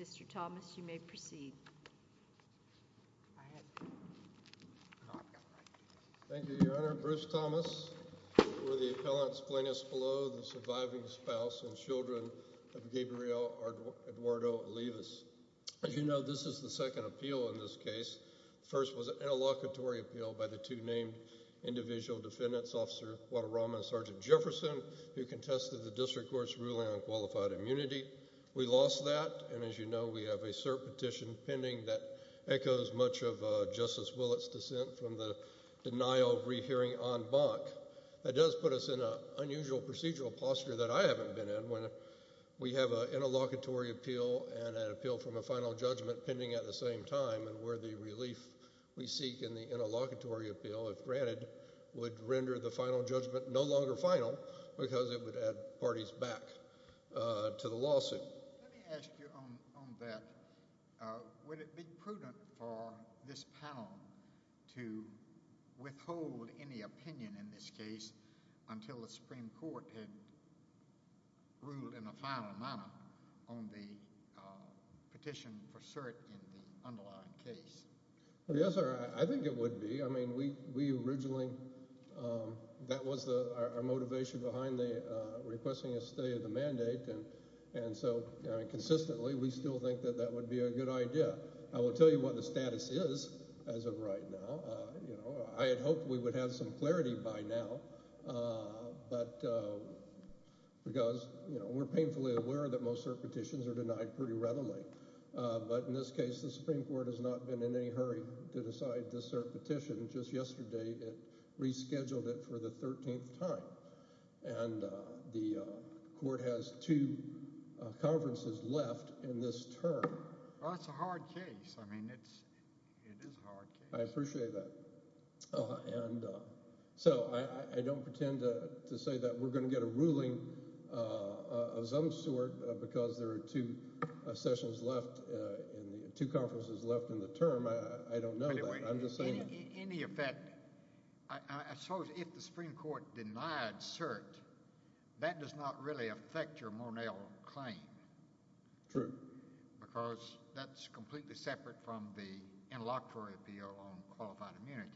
Mr. Thomas, you may proceed. Thank you, Your Honor. Bruce Thomas, before the appellants, Plaintiffs below, the surviving spouse and children of Gabriel Eduardo Olivas. As you know, this is the second appeal in this case. The first was an interlocutory appeal by the two named individual defendants, Officer Guadarrama and Sergeant Jefferson, who contested the district court's ruling on qualified immunity. We lost that, and as you know, we have a cert petition pending that echoes much of Justice Willett's dissent from the denial of rehearing en banc. That does put us in an unusual procedural posture that I haven't been in, when we have an interlocutory appeal and an appeal from a final judgment pending at the same time, and where the relief we seek in the interlocutory appeal, if granted, would render the final judgment no longer final because it would add parties back to the lawsuit. Let me ask you on that. Would it be prudent for this panel to withhold any opinion in this case until the Supreme Court had ruled in a final manner on the petition for cert in the underlying case? Yes, sir, I think it would be. That was our motivation behind requesting a stay of the mandate, and so consistently we still think that that would be a good idea. I will tell you what the status is as of right now. I had hoped we would have some clarity by now, because we're painfully aware that most cert petitions are denied pretty readily, but in this case the Supreme Court has not been in any hurry to decide this cert petition. Just yesterday it rescheduled it for the 13th time, and the court has two conferences left in this term. Well, it's a hard case. I mean, it is a hard case. I appreciate that. So I don't pretend to say that we're going to get a ruling of some sort because there are two sessions left and two conferences left in the term. I don't know that. I'm just saying that. In any effect, I suppose if the Supreme Court denied cert, that does not really affect your Mornell claim. True. Because that's completely separate from the interlocutory appeal on qualified immunity.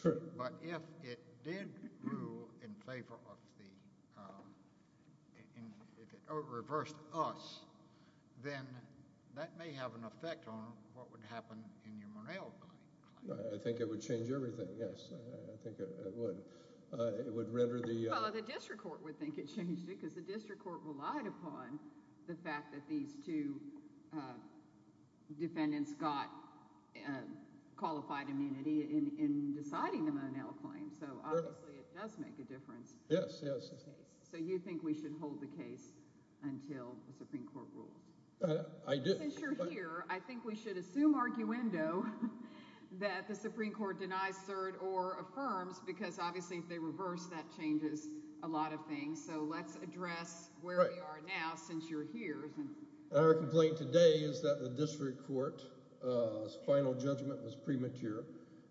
True. But if it did rule in favor of the—if it reversed us, then that may have an effect on what would happen in your Mornell claim. I think it would change everything, yes. I think it would. It would render the— Well, the district court would think it changed it because the district court relied upon the fact that these two defendants got qualified immunity in deciding the Mornell claim. So obviously it does make a difference. Yes, yes. So you think we should hold the case until the Supreme Court rules? I do. Since you're here, I think we should assume arguendo that the Supreme Court denies cert or affirms because obviously if they reverse, that changes a lot of things. So let's address where we are now since you're here. Our complaint today is that the district court's final judgment was premature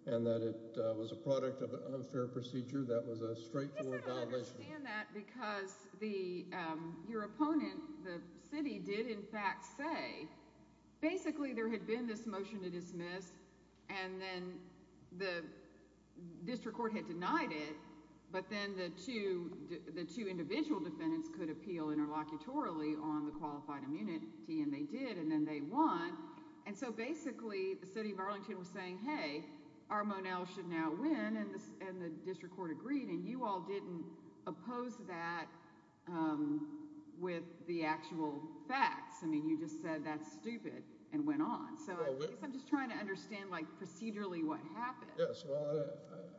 and that it was a product of an unfair procedure that was a straightforward violation. I understand that because your opponent, the city, did in fact say basically there had been this motion to dismiss and then the district court had denied it, but then the two individual defendants could appeal interlocutorily on the qualified immunity, and they did, and then they won. And so basically the city of Arlington was saying, hey, our Mornell should now win, and the district court agreed, and you all didn't oppose that with the actual facts. I mean you just said that's stupid and went on. So I guess I'm just trying to understand procedurally what happened. Yes, well,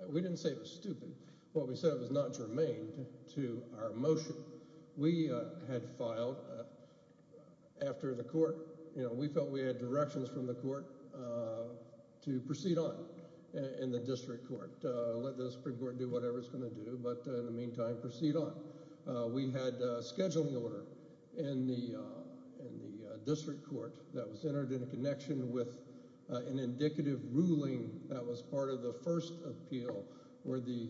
we didn't say it was stupid. What we said was not germane to our motion. We had filed after the court. We felt we had directions from the court to proceed on in the district court, let the Supreme Court do whatever it's going to do, but in the meantime proceed on. We had a scheduling order in the district court that was entered in a connection with an indicative ruling that was part of the first appeal where the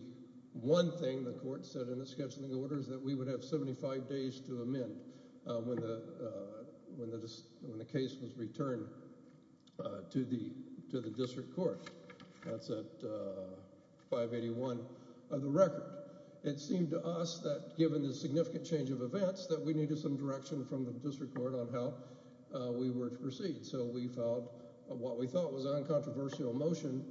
one thing the court said in the scheduling order is that we would have 75 days to amend when the case was returned to the district court. That's at 581 of the record. It seemed to us that given the significant change of events that we needed some direction from the district court on how we were to proceed, so we filed what we thought was an uncontroversial motion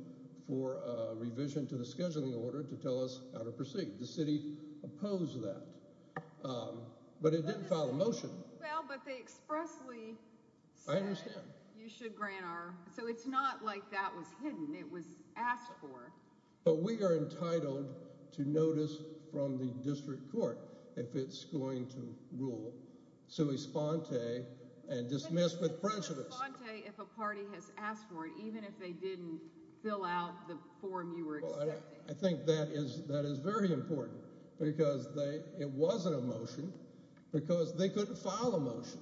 for revision to the scheduling order to tell us how to proceed. The city opposed that, but it didn't file a motion. Well, but they expressly said you should grant our, so it's not like that was hidden. It was asked for. But we are entitled to notice from the district court if it's going to rule. Sui sponte and dismiss with prejudice. Sui sponte if a party has asked for it, even if they didn't fill out the form you were expecting. I think that is very important because it wasn't a motion because they couldn't file a motion,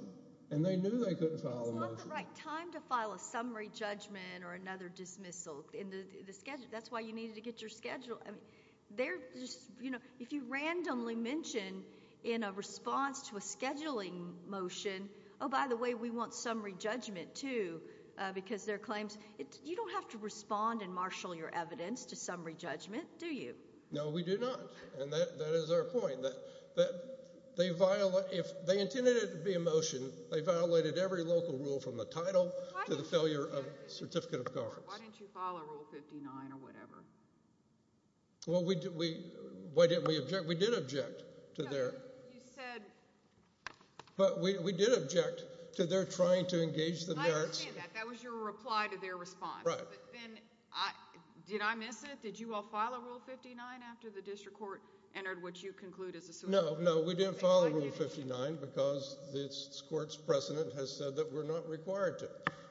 and they knew they couldn't file a motion. It's not the right time to file a summary judgment or another dismissal in the schedule. That's why you needed to get your schedule. They're just, you know, if you randomly mention in a response to a scheduling motion, oh, by the way, we want summary judgment, too, because there are claims. You don't have to respond and marshal your evidence to summary judgment, do you? No, we do not, and that is our point. They intended it to be a motion. They violated every local rule from the title to the failure of certificate of guards. Why didn't you file a Rule 59 or whatever? Well, why didn't we object? We did object to their— No, you said— But we did object to their trying to engage the merits. I understand that. That was your reply to their response. Right. But then did I miss it? Did you all file a Rule 59 after the district court entered what you conclude is a— No, no, we didn't file a Rule 59 because this court's precedent has said that we're not required to.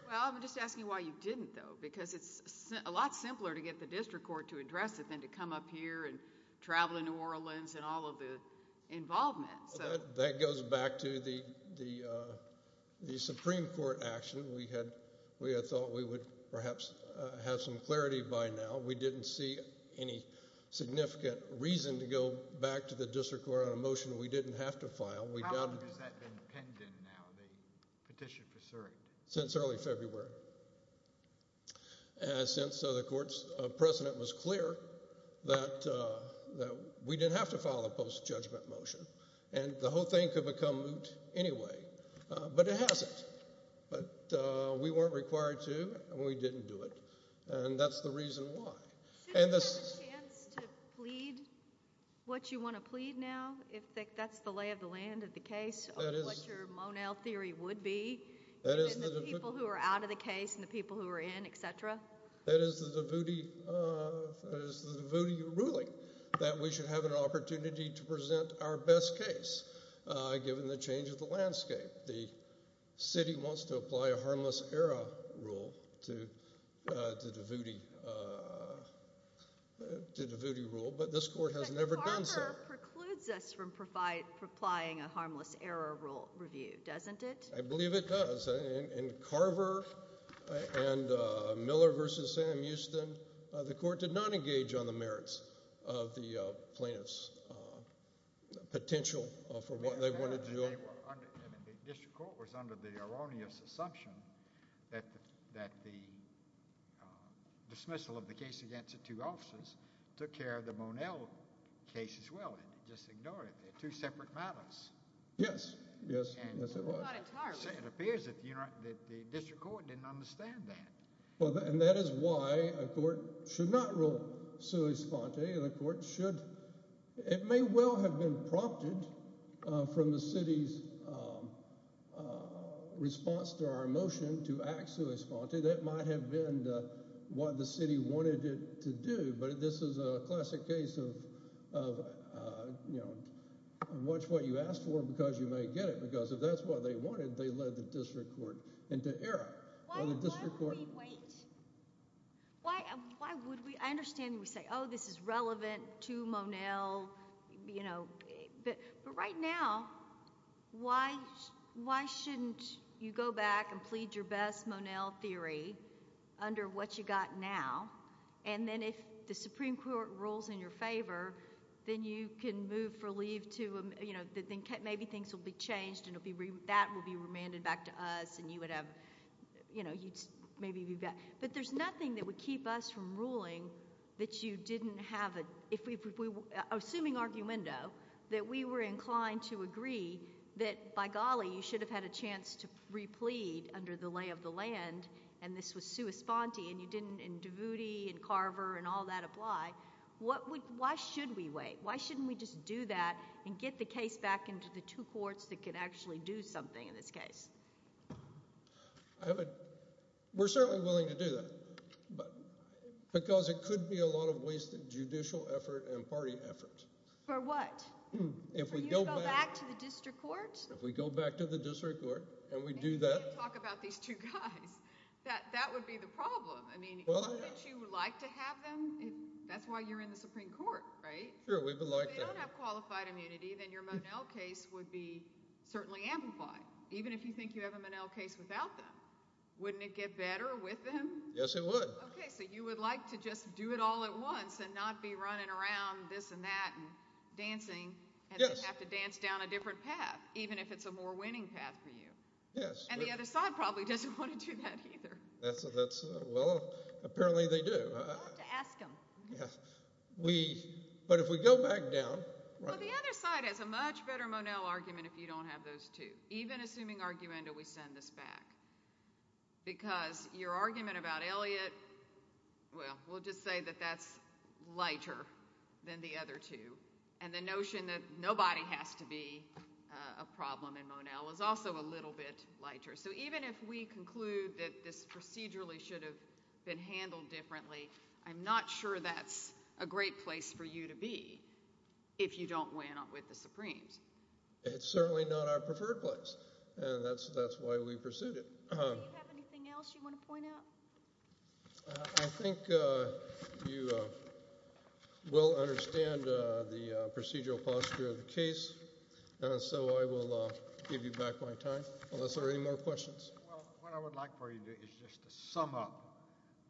Well, I'm just asking why you didn't, though, because it's a lot simpler to get the district court to address it than to come up here and travel to New Orleans and all of the involvement. That goes back to the Supreme Court action. We had thought we would perhaps have some clarity by now. We didn't see any significant reason to go back to the district court on a motion we didn't have to file. How long has that been pending now, the petition for cert? Since early February, since the court's precedent was clear that we didn't have to file a post-judgment motion, and the whole thing could become moot anyway. But it hasn't. But we weren't required to, and we didn't do it, and that's the reason why. Isn't there a chance to plead what you want to plead now, if that's the lay of the land of the case, of what your Monell theory would be, given the people who are out of the case and the people who are in, et cetera? That is the Davuti ruling, that we should have an opportunity to present our best case, given the change of the landscape. The city wants to apply a harmless error rule to the Davuti rule, but this court has never done so. The error precludes us from applying a harmless error rule review, doesn't it? I believe it does. In Carver and Miller v. Sam Houston, the court did not engage on the merits of the plaintiffs' potential for what they wanted to do. The district court was under the erroneous assumption that the dismissal of the case against the two officers took care of the Monell case as well. It just ignored it. They're two separate matters. Yes. Yes, it was. Not entirely. It appears that the district court didn't understand that. That is why a court should not rule sui sponte. It may well have been prompted from the city's response to our motion to act sui sponte. That might have been what the city wanted it to do, but this is a classic case of watch what you ask for because you may get it. If that's what they wanted, they led the district court into error. Why would we wait? Why would we? I understand we say, oh, this is relevant to Monell, but right now, why shouldn't you go back and plead your best Monell theory under what you got now? If the Supreme Court rules in your favor, then you can move for leave to—maybe things will be changed and that will be remanded back to us and you would have—but there's nothing that would keep us from ruling that you didn't have a—assuming argumento, that we were inclined to agree that, by golly, you should have had a chance to replead under the lay of the land, and this was sui sponte, and Davuti and Carver and all that apply. Why should we wait? Why shouldn't we just do that and get the case back into the two courts that could actually do something in this case? We're certainly willing to do that because it could be a lot of wasted judicial effort and party effort. For what? For you to go back to the district court? If we go back to the district court and we do that— Wouldn't you like to have them? That's why you're in the Supreme Court, right? Sure, we would like that. If you don't have qualified immunity, then your Monell case would be certainly amplified, even if you think you have a Monell case without them. Wouldn't it get better with them? Yes, it would. Okay, so you would like to just do it all at once and not be running around this and that and dancing and have to dance down a different path, even if it's a more winning path for you. Yes. And the other side probably doesn't want to do that either. Well, apparently they do. You'll have to ask them. But if we go back down— Well, the other side has a much better Monell argument if you don't have those two, even assuming arguenda we send this back. Because your argument about Elliott, well, we'll just say that that's lighter than the other two. And the notion that nobody has to be a problem in Monell is also a little bit lighter. So even if we conclude that this procedurally should have been handled differently, I'm not sure that's a great place for you to be if you don't win with the Supremes. It's certainly not our preferred place, and that's why we pursued it. Do you have anything else you want to point out? I think you will understand the procedural posture of the case, so I will give you back my time unless there are any more questions. What I would like for you to do is just to sum up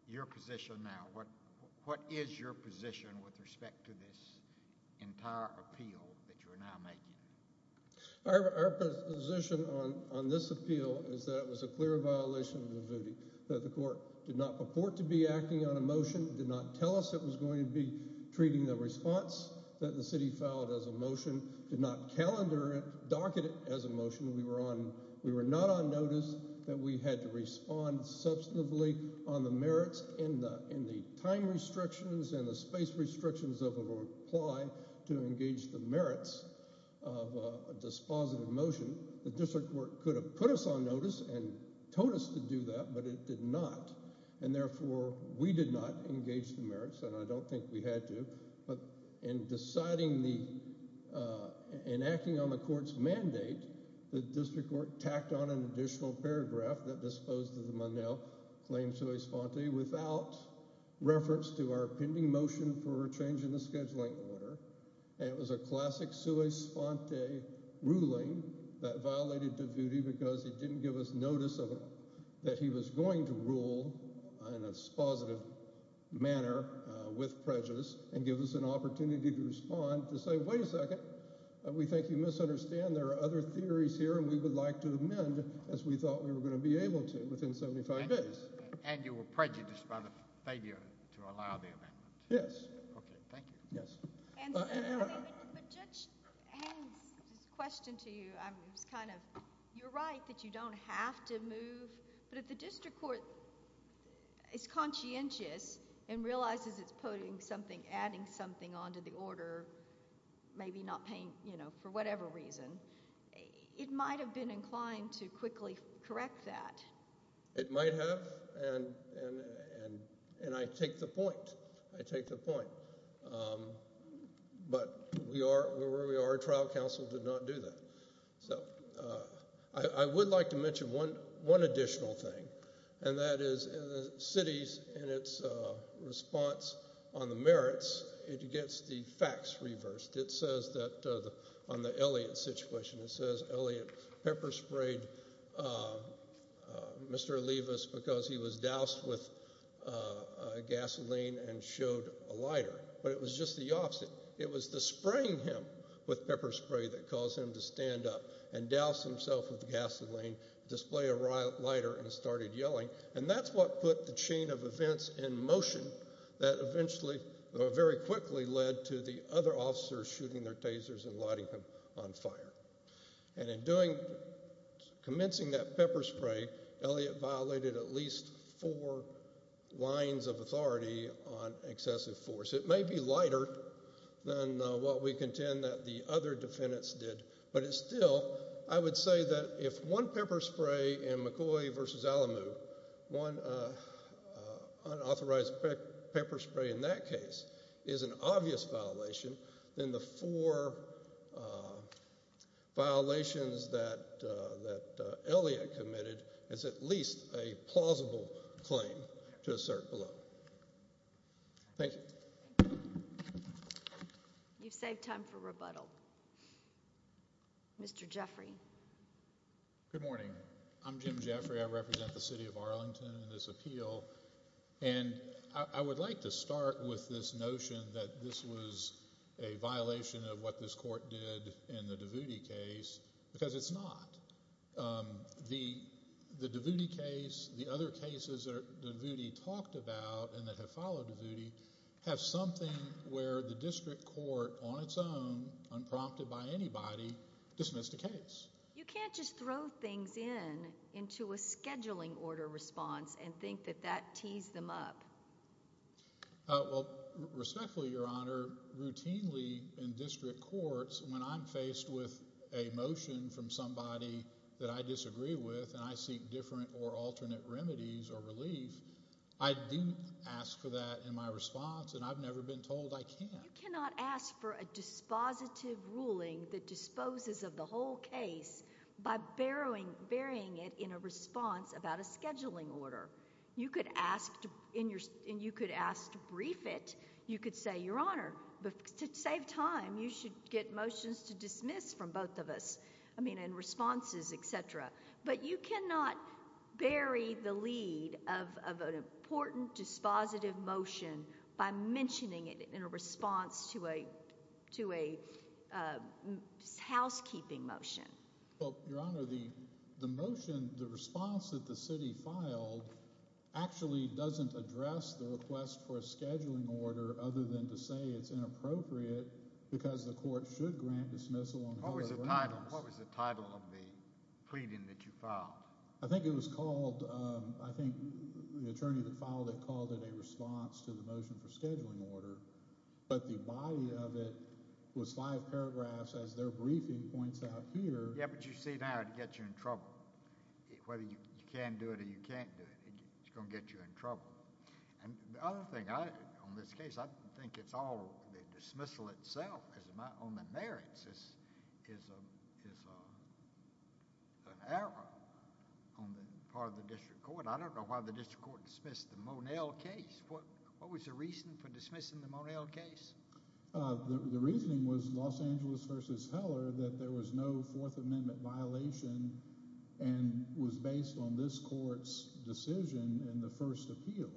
your position now. What is your position with respect to this entire appeal that you're now making? Our position on this appeal is that it was a clear violation of the voting, that the court did not purport to be acting on a motion, did not tell us it was going to be treating the response that the city filed as a motion, did not calendar it, docket it as a motion. We were not on notice that we had to respond substantively on the merits in the time restrictions and the space restrictions of a reply to engage the merits of a dispositive motion. The district court could have put us on notice and told us to do that, but it did not, and therefore we did not engage the merits, and I don't think we had to. But in deciding the – in acting on the court's mandate, the district court tacked on an additional paragraph that disposed of the Monell claim sui sponte without reference to our pending motion for a change in the scheduling order, and it was a classic sui sponte ruling that violated the duty because it didn't give us notice that he was going to rule in a dispositive manner with prejudice and give us an opportunity to respond to say, wait a second, we think you misunderstand. There are other theories here, and we would like to amend as we thought we were going to be able to within 75 days. And you were prejudiced by the failure to allow the amendment? Yes. Okay, thank you. Yes. But Judge Haynes, just a question to you. It was kind of – you're right that you don't have to move, but if the district court is conscientious and realizes it's putting something – adding something onto the order, maybe not paying – for whatever reason, it might have been inclined to quickly correct that. It might have, and I take the point. I take the point. But we are where we are. Trial counsel did not do that. So I would like to mention one additional thing, and that is cities in its response on the merits, it gets the facts reversed. It says that on the Elliott situation, it says Elliott pepper sprayed Mr. Levis because he was doused with gasoline and showed a lighter, but it was just the opposite. It was the spraying him with pepper spray that caused him to stand up and douse himself with gasoline, display a lighter, and started yelling. And that's what put the chain of events in motion that eventually very quickly led to the other officers shooting their tasers and lighting them on fire. And in doing – commencing that pepper spray, Elliott violated at least four lines of authority on excessive force. It may be lighter than what we contend that the other defendants did. But it's still – I would say that if one pepper spray in McCoy v. Alamu, one unauthorized pepper spray in that case, is an obvious violation, then the four violations that Elliott committed is at least a plausible claim to assert below. Thank you. You've saved time for rebuttal. Mr. Jeffrey. Good morning. I'm Jim Jeffrey. I represent the city of Arlington in this appeal. And I would like to start with this notion that this was a violation of what this court did in the Davuti case because it's not. The Davuti case, the other cases that Davuti talked about and that have followed Davuti, have something where the district court on its own, unprompted by anybody, dismissed a case. You can't just throw things in into a scheduling order response and think that that tees them up. Well, respectfully, Your Honor, routinely in district courts, when I'm faced with a motion from somebody that I disagree with and I seek different or alternate remedies or relief, I do ask for that in my response, and I've never been told I can't. You cannot ask for a dispositive ruling that disposes of the whole case by burying it in a response about a scheduling order. And you could ask to brief it. You could say, Your Honor, to save time, you should get motions to dismiss from both of us, I mean, in responses, etc. But you cannot bury the lead of an important dispositive motion by mentioning it in a response to a housekeeping motion. Well, Your Honor, the motion, the response that the city filed, actually doesn't address the request for a scheduling order other than to say it's inappropriate because the court should grant dismissal. What was the title of the pleading that you filed? I think it was called, I think the attorney that filed it called it a response to the motion for scheduling order. But the body of it was five paragraphs, as their briefing points out here. Yeah, but you see now, it gets you in trouble. Whether you can do it or you can't do it, it's going to get you in trouble. And the other thing, on this case, I think it's all the dismissal itself on the merits is an error on the part of the district court. I don't know why the district court dismissed the Monell case. What was the reason for dismissing the Monell case? The reasoning was Los Angeles v. Heller that there was no Fourth Amendment violation and was based on this court's decision in the first appeal.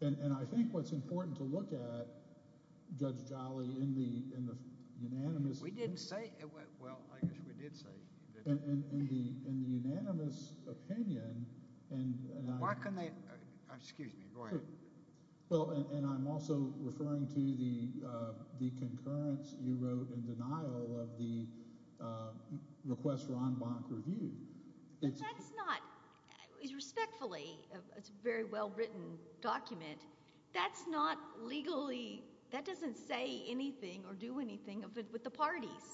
And I think what's important to look at, Judge Jolly, in the unanimous— We didn't say—well, I guess we did say— In the unanimous opinion— Why couldn't they—excuse me, go ahead. Well, and I'm also referring to the concurrence you wrote in denial of the request Ron Bonk reviewed. But that's not—respectfully, it's a very well-written document. That's not legally—that doesn't say anything or do anything with the parties.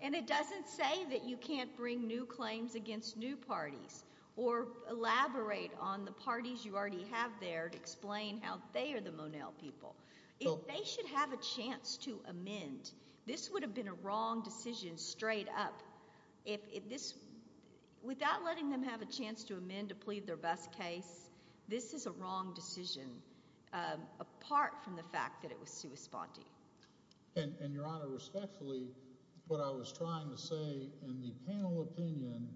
And it doesn't say that you can't bring new claims against new parties or elaborate on the parties you already have there to explain how they are the Monell people. If they should have a chance to amend, this would have been a wrong decision straight up. Without letting them have a chance to amend to plead their best case, this is a wrong decision, apart from the fact that it was sui sponte. And, Your Honor, respectfully, what I was trying to say, in the panel opinion,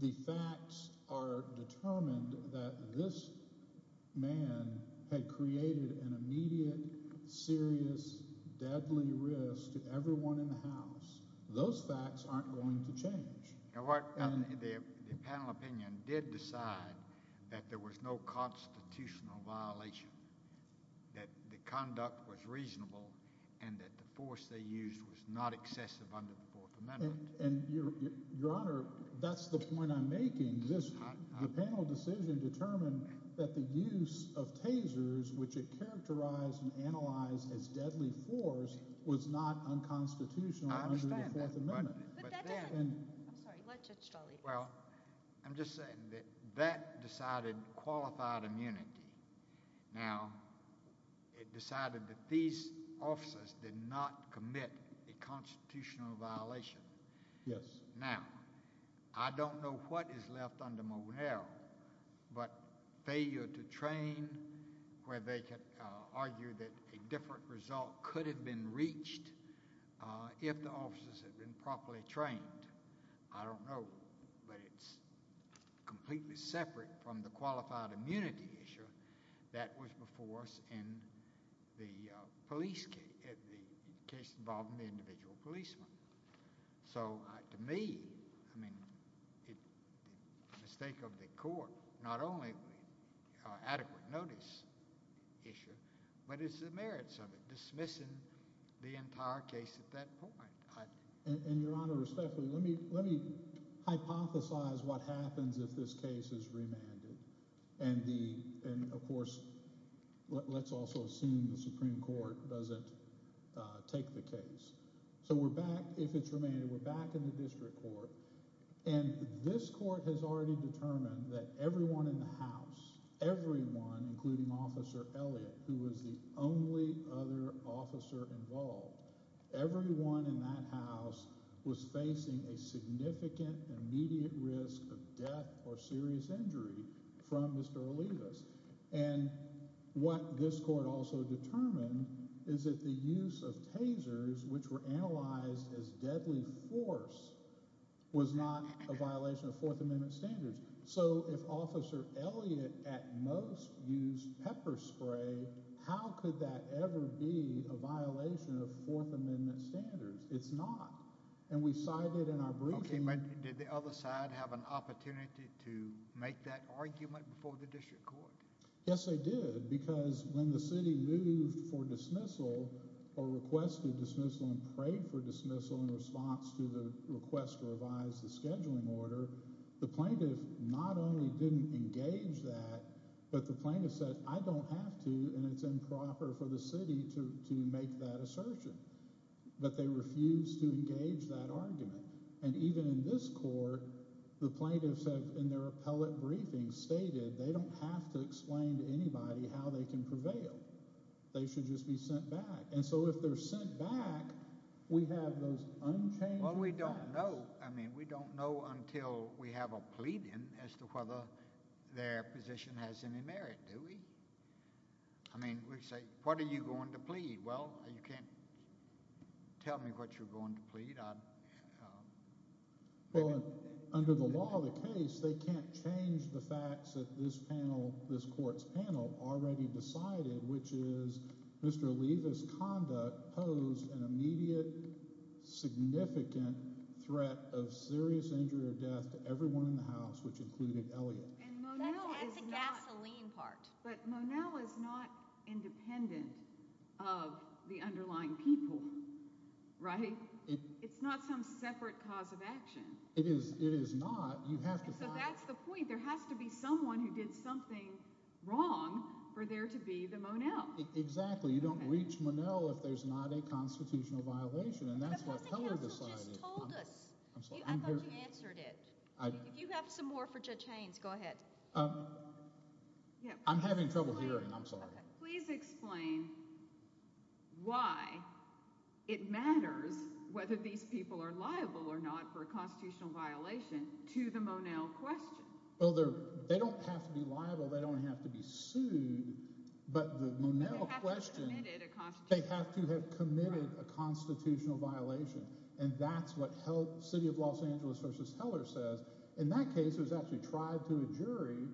the facts are determined that this man had created an immediate, serious, deadly risk to everyone in the House. Those facts aren't going to change. The panel opinion did decide that there was no constitutional violation, that the conduct was reasonable, and that the force they used was not excessive under the Fourth Amendment. And, Your Honor, that's the point I'm making. The panel decision determined that the use of tasers, which it characterized and analyzed as deadly force, was not unconstitutional under the Fourth Amendment. I'm sorry. Let Judge Dolley answer. I'm just saying that that decided qualified immunity. Now, it decided that these officers did not commit a constitutional violation. Yes. Now, I don't know what is left under Monell, but failure to train where they could argue that a different result could have been reached if the officers had been properly trained. I don't know, but it's completely separate from the qualified immunity issue that was before us in the case involving the individual policeman. So, to me, I mean, the mistake of the court, not only adequate notice issue, but it's the merits of it, dismissing the entire case at that point. And, Your Honor, respectfully, let me hypothesize what happens if this case is remanded. And, of course, let's also assume the Supreme Court doesn't take the case. So we're back – if it's remanded, we're back in the district court. And this court has already determined that everyone in the house, everyone, including Officer Elliott, who was the only other officer involved, everyone in that house was facing a significant, immediate risk of death or serious injury from Mr. Olivas. And what this court also determined is that the use of tasers, which were analyzed as deadly force, was not a violation of Fourth Amendment standards. So if Officer Elliott at most used pepper spray, how could that ever be a violation of Fourth Amendment standards? It's not. Okay, but did the other side have an opportunity to make that argument before the district court? Yes, they did because when the city moved for dismissal or requested dismissal and prayed for dismissal in response to the request to revise the scheduling order, the plaintiff not only didn't engage that, but the plaintiff said, I don't have to, and it's improper for the city to make that assertion. But they refused to engage that argument. And even in this court, the plaintiffs have, in their appellate briefing, stated they don't have to explain to anybody how they can prevail. They should just be sent back. And so if they're sent back, we have those unchanged – Well, we don't know. I mean, we don't know until we have a pleading as to whether their position has any merit, do we? I mean, we say, what are you going to plead? Well, you can't tell me what you're going to plead. Well, under the law of the case, they can't change the facts that this panel, this court's panel, already decided, which is Mr. Oliva's conduct posed an immediate, significant threat of serious injury or death to everyone in the house, which included Elliot. That's the gasoline part. But Monell is not independent of the underlying people, right? It's not some separate cause of action. It is not. You have to find – So that's the point. There has to be someone who did something wrong for there to be the Monell. Exactly. You don't reach Monell if there's not a constitutional violation, and that's what Keller decided. But the counsel just told us. I'm sorry. I thought you answered it. If you have some more for Judge Haynes, go ahead. I'm having trouble hearing. I'm sorry. Please explain why it matters whether these people are liable or not for a constitutional violation to the Monell question. Well, they don't have to be liable. They don't have to be sued. But the Monell question – They have to have committed a constitutional – They have to have committed a constitutional violation, and that's what City of Los Angeles v. Keller says. In that case, it was actually tried to a jury,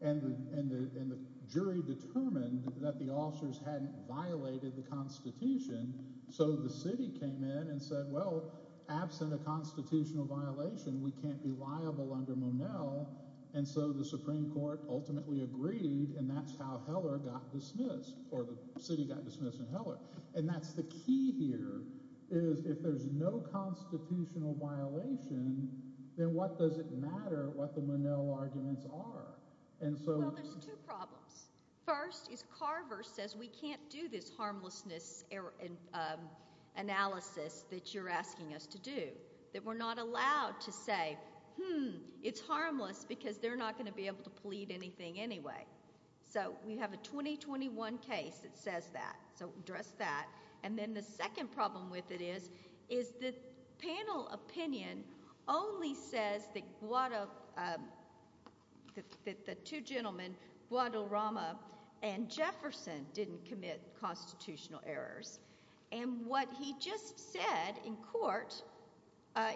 and the jury determined that the officers hadn't violated the constitution. So the city came in and said, well, absent a constitutional violation, we can't be liable under Monell. And so the Supreme Court ultimately agreed, and that's how Heller got dismissed, or the city got dismissed in Heller. And that's the key here is if there's no constitutional violation, then what does it matter what the Monell arguments are? Well, there's two problems. First is Carver says we can't do this harmlessness analysis that you're asking us to do, that we're not allowed to say, hmm, it's harmless because they're not going to be able to plead anything anyway. So we have a 2021 case that says that, so address that. And then the second problem with it is the panel opinion only says that the two gentlemen, Guadalrama and Jefferson, didn't commit constitutional errors. And what he just said in court,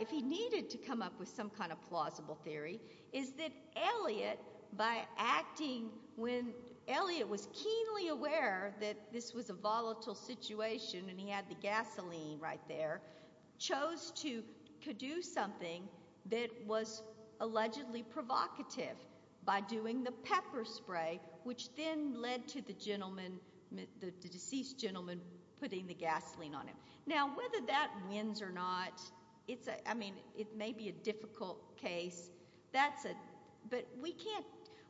if he needed to come up with some kind of plausible theory, is that Eliot, by acting when Eliot was keenly aware that this was a volatile situation and he had the gasoline right there, chose to do something that was allegedly provocative by doing the pepper spray, which then led to the gentleman, the deceased gentleman, putting the gasoline on him. Now, whether that wins or not, it's a, I mean, it may be a difficult case. But we can't,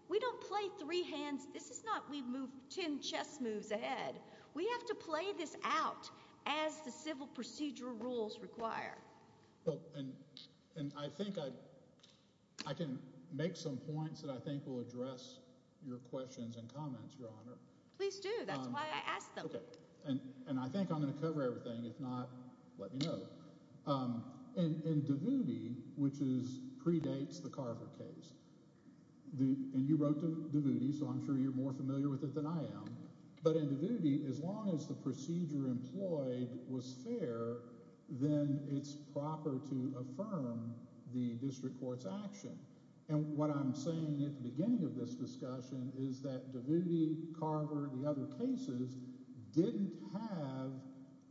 we don't play three hands. This is not we move 10 chess moves ahead. We have to play this out as the civil procedural rules require. And I think I can make some points that I think will address your questions and comments, Your Honor. Please do. That's why I asked them. And I think I'm going to cover everything. If not, let me know. And Davuti, which predates the Carver case, and you wrote Davuti, so I'm sure you're more familiar with it than I am. But in Davuti, as long as the procedure employed was fair, then it's proper to affirm the district court's action. And what I'm saying at the beginning of this discussion is that Davuti, Carver, and the other cases didn't have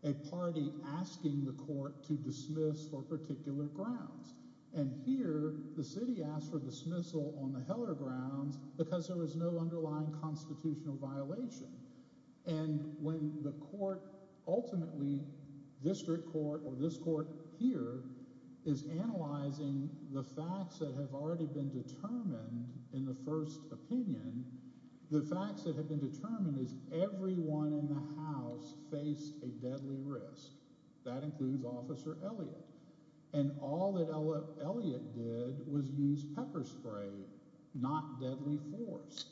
a party asking the court to dismiss for particular grounds. And here the city asked for dismissal on the Heller grounds because there was no underlying constitutional violation. And when the court ultimately, district court or this court here, is analyzing the facts that have already been determined in the first opinion, the facts that have been determined is everyone in the house faced a deadly risk. That includes Officer Elliott. And all that Elliott did was use pepper spray, not deadly force.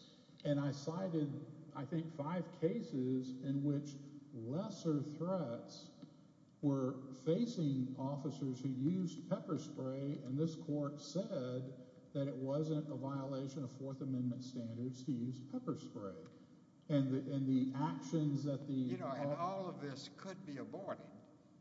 And I cited, I think, five cases in which lesser threats were facing officers who used pepper spray, and this court said that it wasn't a violation of Fourth Amendment standards to use pepper spray. And all of this could be aborted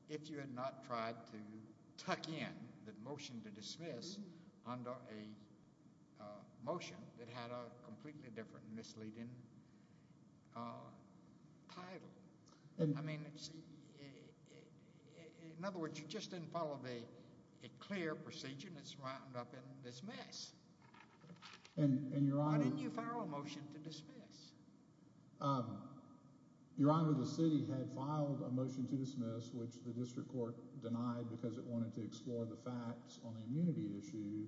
if you had not tried to tuck in the motion to dismiss under a motion that had a completely different misleading title. In other words, you just didn't follow a clear procedure, and it's wound up in dismiss. Why didn't you follow a motion to dismiss? Your Honor, the city had filed a motion to dismiss, which the district court denied because it wanted to explore the facts on the immunity issue.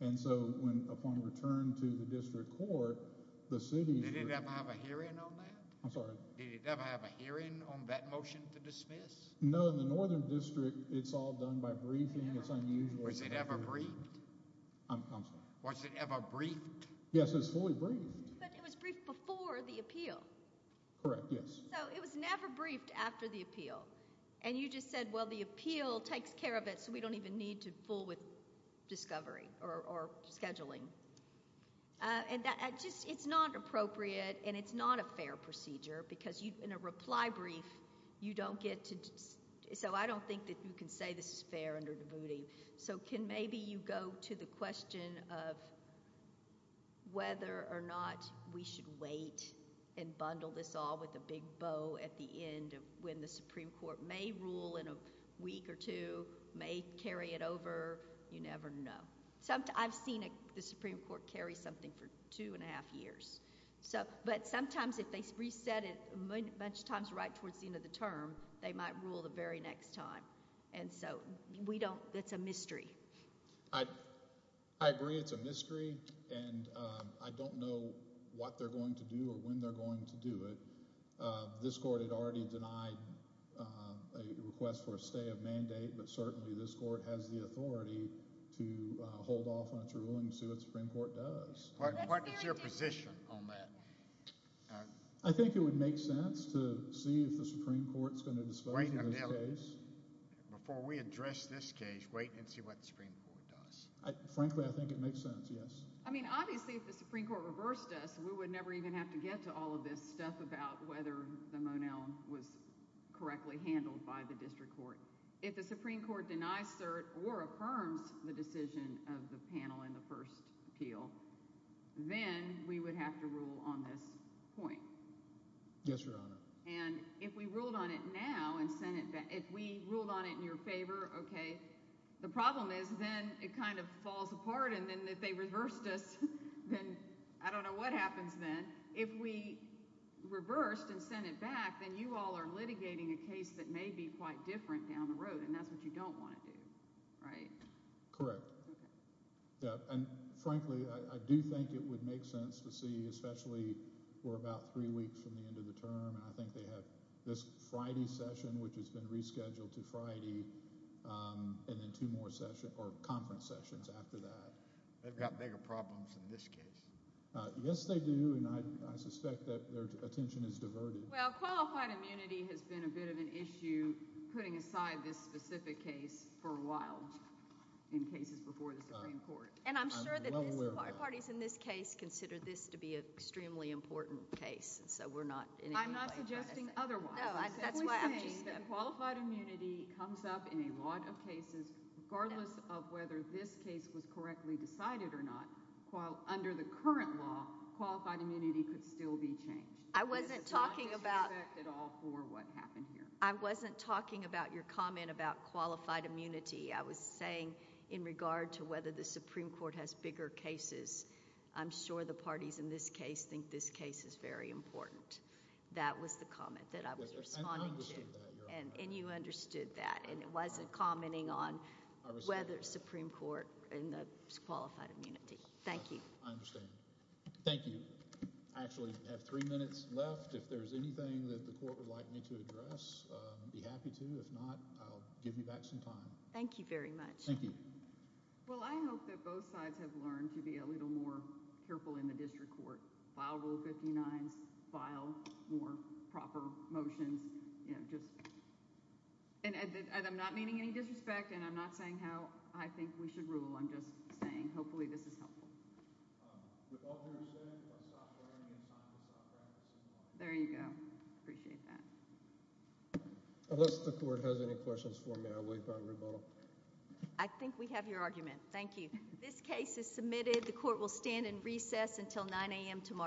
And so upon return to the district court, the city… Did it ever have a hearing on that? I'm sorry? Did it ever have a hearing on that motion to dismiss? No, in the Northern District, it's all done by briefing. It's unusual. Was it ever briefed? I'm sorry? Was it ever briefed? Yes, it was fully briefed. But it was briefed before the appeal. Correct, yes. So it was never briefed after the appeal, and you just said, well, the appeal takes care of it, so we don't even need to fool with discovery or scheduling. It's not appropriate, and it's not a fair procedure, because in a reply brief, you don't get to… So I don't think that you can say this is fair under Davuti. So can maybe you go to the question of whether or not we should wait and bundle this all with a big bow at the end of when the Supreme Court may rule in a week or two, may carry it over. You never know. I've seen the Supreme Court carry something for two and a half years. But sometimes if they reset it a bunch of times right towards the end of the term, they might rule the very next time. And so we don't – it's a mystery. I agree it's a mystery, and I don't know what they're going to do or when they're going to do it. This court had already denied a request for a stay of mandate, but certainly this court has the authority to hold off on its ruling and see what the Supreme Court does. What is your position on that? I think it would make sense to see if the Supreme Court is going to dispose of this case. Before we address this case, wait and see what the Supreme Court does. Frankly, I think it makes sense, yes. I mean obviously if the Supreme Court reversed us, we would never even have to get to all of this stuff about whether the Monell was correctly handled by the district court. If the Supreme Court denies cert or affirms the decision of the panel in the first appeal, then we would have to rule on this point. Yes, Your Honor. And if we ruled on it now and sent it – if we ruled on it in your favor, okay. The problem is then it kind of falls apart, and then if they reversed us, then I don't know what happens then. If we reversed and sent it back, then you all are litigating a case that may be quite different down the road, and that's what you don't want to do, right? Correct. Okay. And frankly, I do think it would make sense to see, especially we're about three weeks from the end of the term, and I think they have this Friday session, which has been rescheduled to Friday, and then two more sessions – or conference sessions after that. They've got bigger problems in this case. Yes, they do, and I suspect that their attention is diverted. Well, qualified immunity has been a bit of an issue putting aside this specific case for a while in cases before the Supreme Court. And I'm sure that parties in this case consider this to be an extremely important case, so we're not in any way – I'm not suggesting otherwise. No, that's why I'm just – I'm simply saying that qualified immunity comes up in a lot of cases regardless of whether this case was correctly decided or not. Under the current law, qualified immunity could still be changed. I wasn't talking about – It's not in effect at all for what happened here. I wasn't talking about your comment about qualified immunity. I was saying in regard to whether the Supreme Court has bigger cases. I'm sure the parties in this case think this case is very important. That was the comment that I was responding to. I understood that, Your Honor. And you understood that, and it wasn't commenting on whether the Supreme Court – I understand that. – in the qualified immunity. Thank you. I understand. Thank you. I actually have three minutes left. If there's anything that the court would like me to address, I'd be happy to. If not, I'll give you back some time. Thank you very much. Thank you. Well, I hope that both sides have learned to be a little more careful in the district court, file Rule 59s, file more proper motions, just – and I'm not meaning any disrespect, and I'm not saying how I think we should rule. I'm just saying hopefully this is helpful. Thank you. With all due respect, if I stop here, I'm going to be assigned to a soft round at some point. There you go. Appreciate that. Unless the court has any questions for me, I will leave it on rebuttal. I think we have your argument. Thank you. This case is submitted. The court will stand in recess until 9 a.m. tomorrow.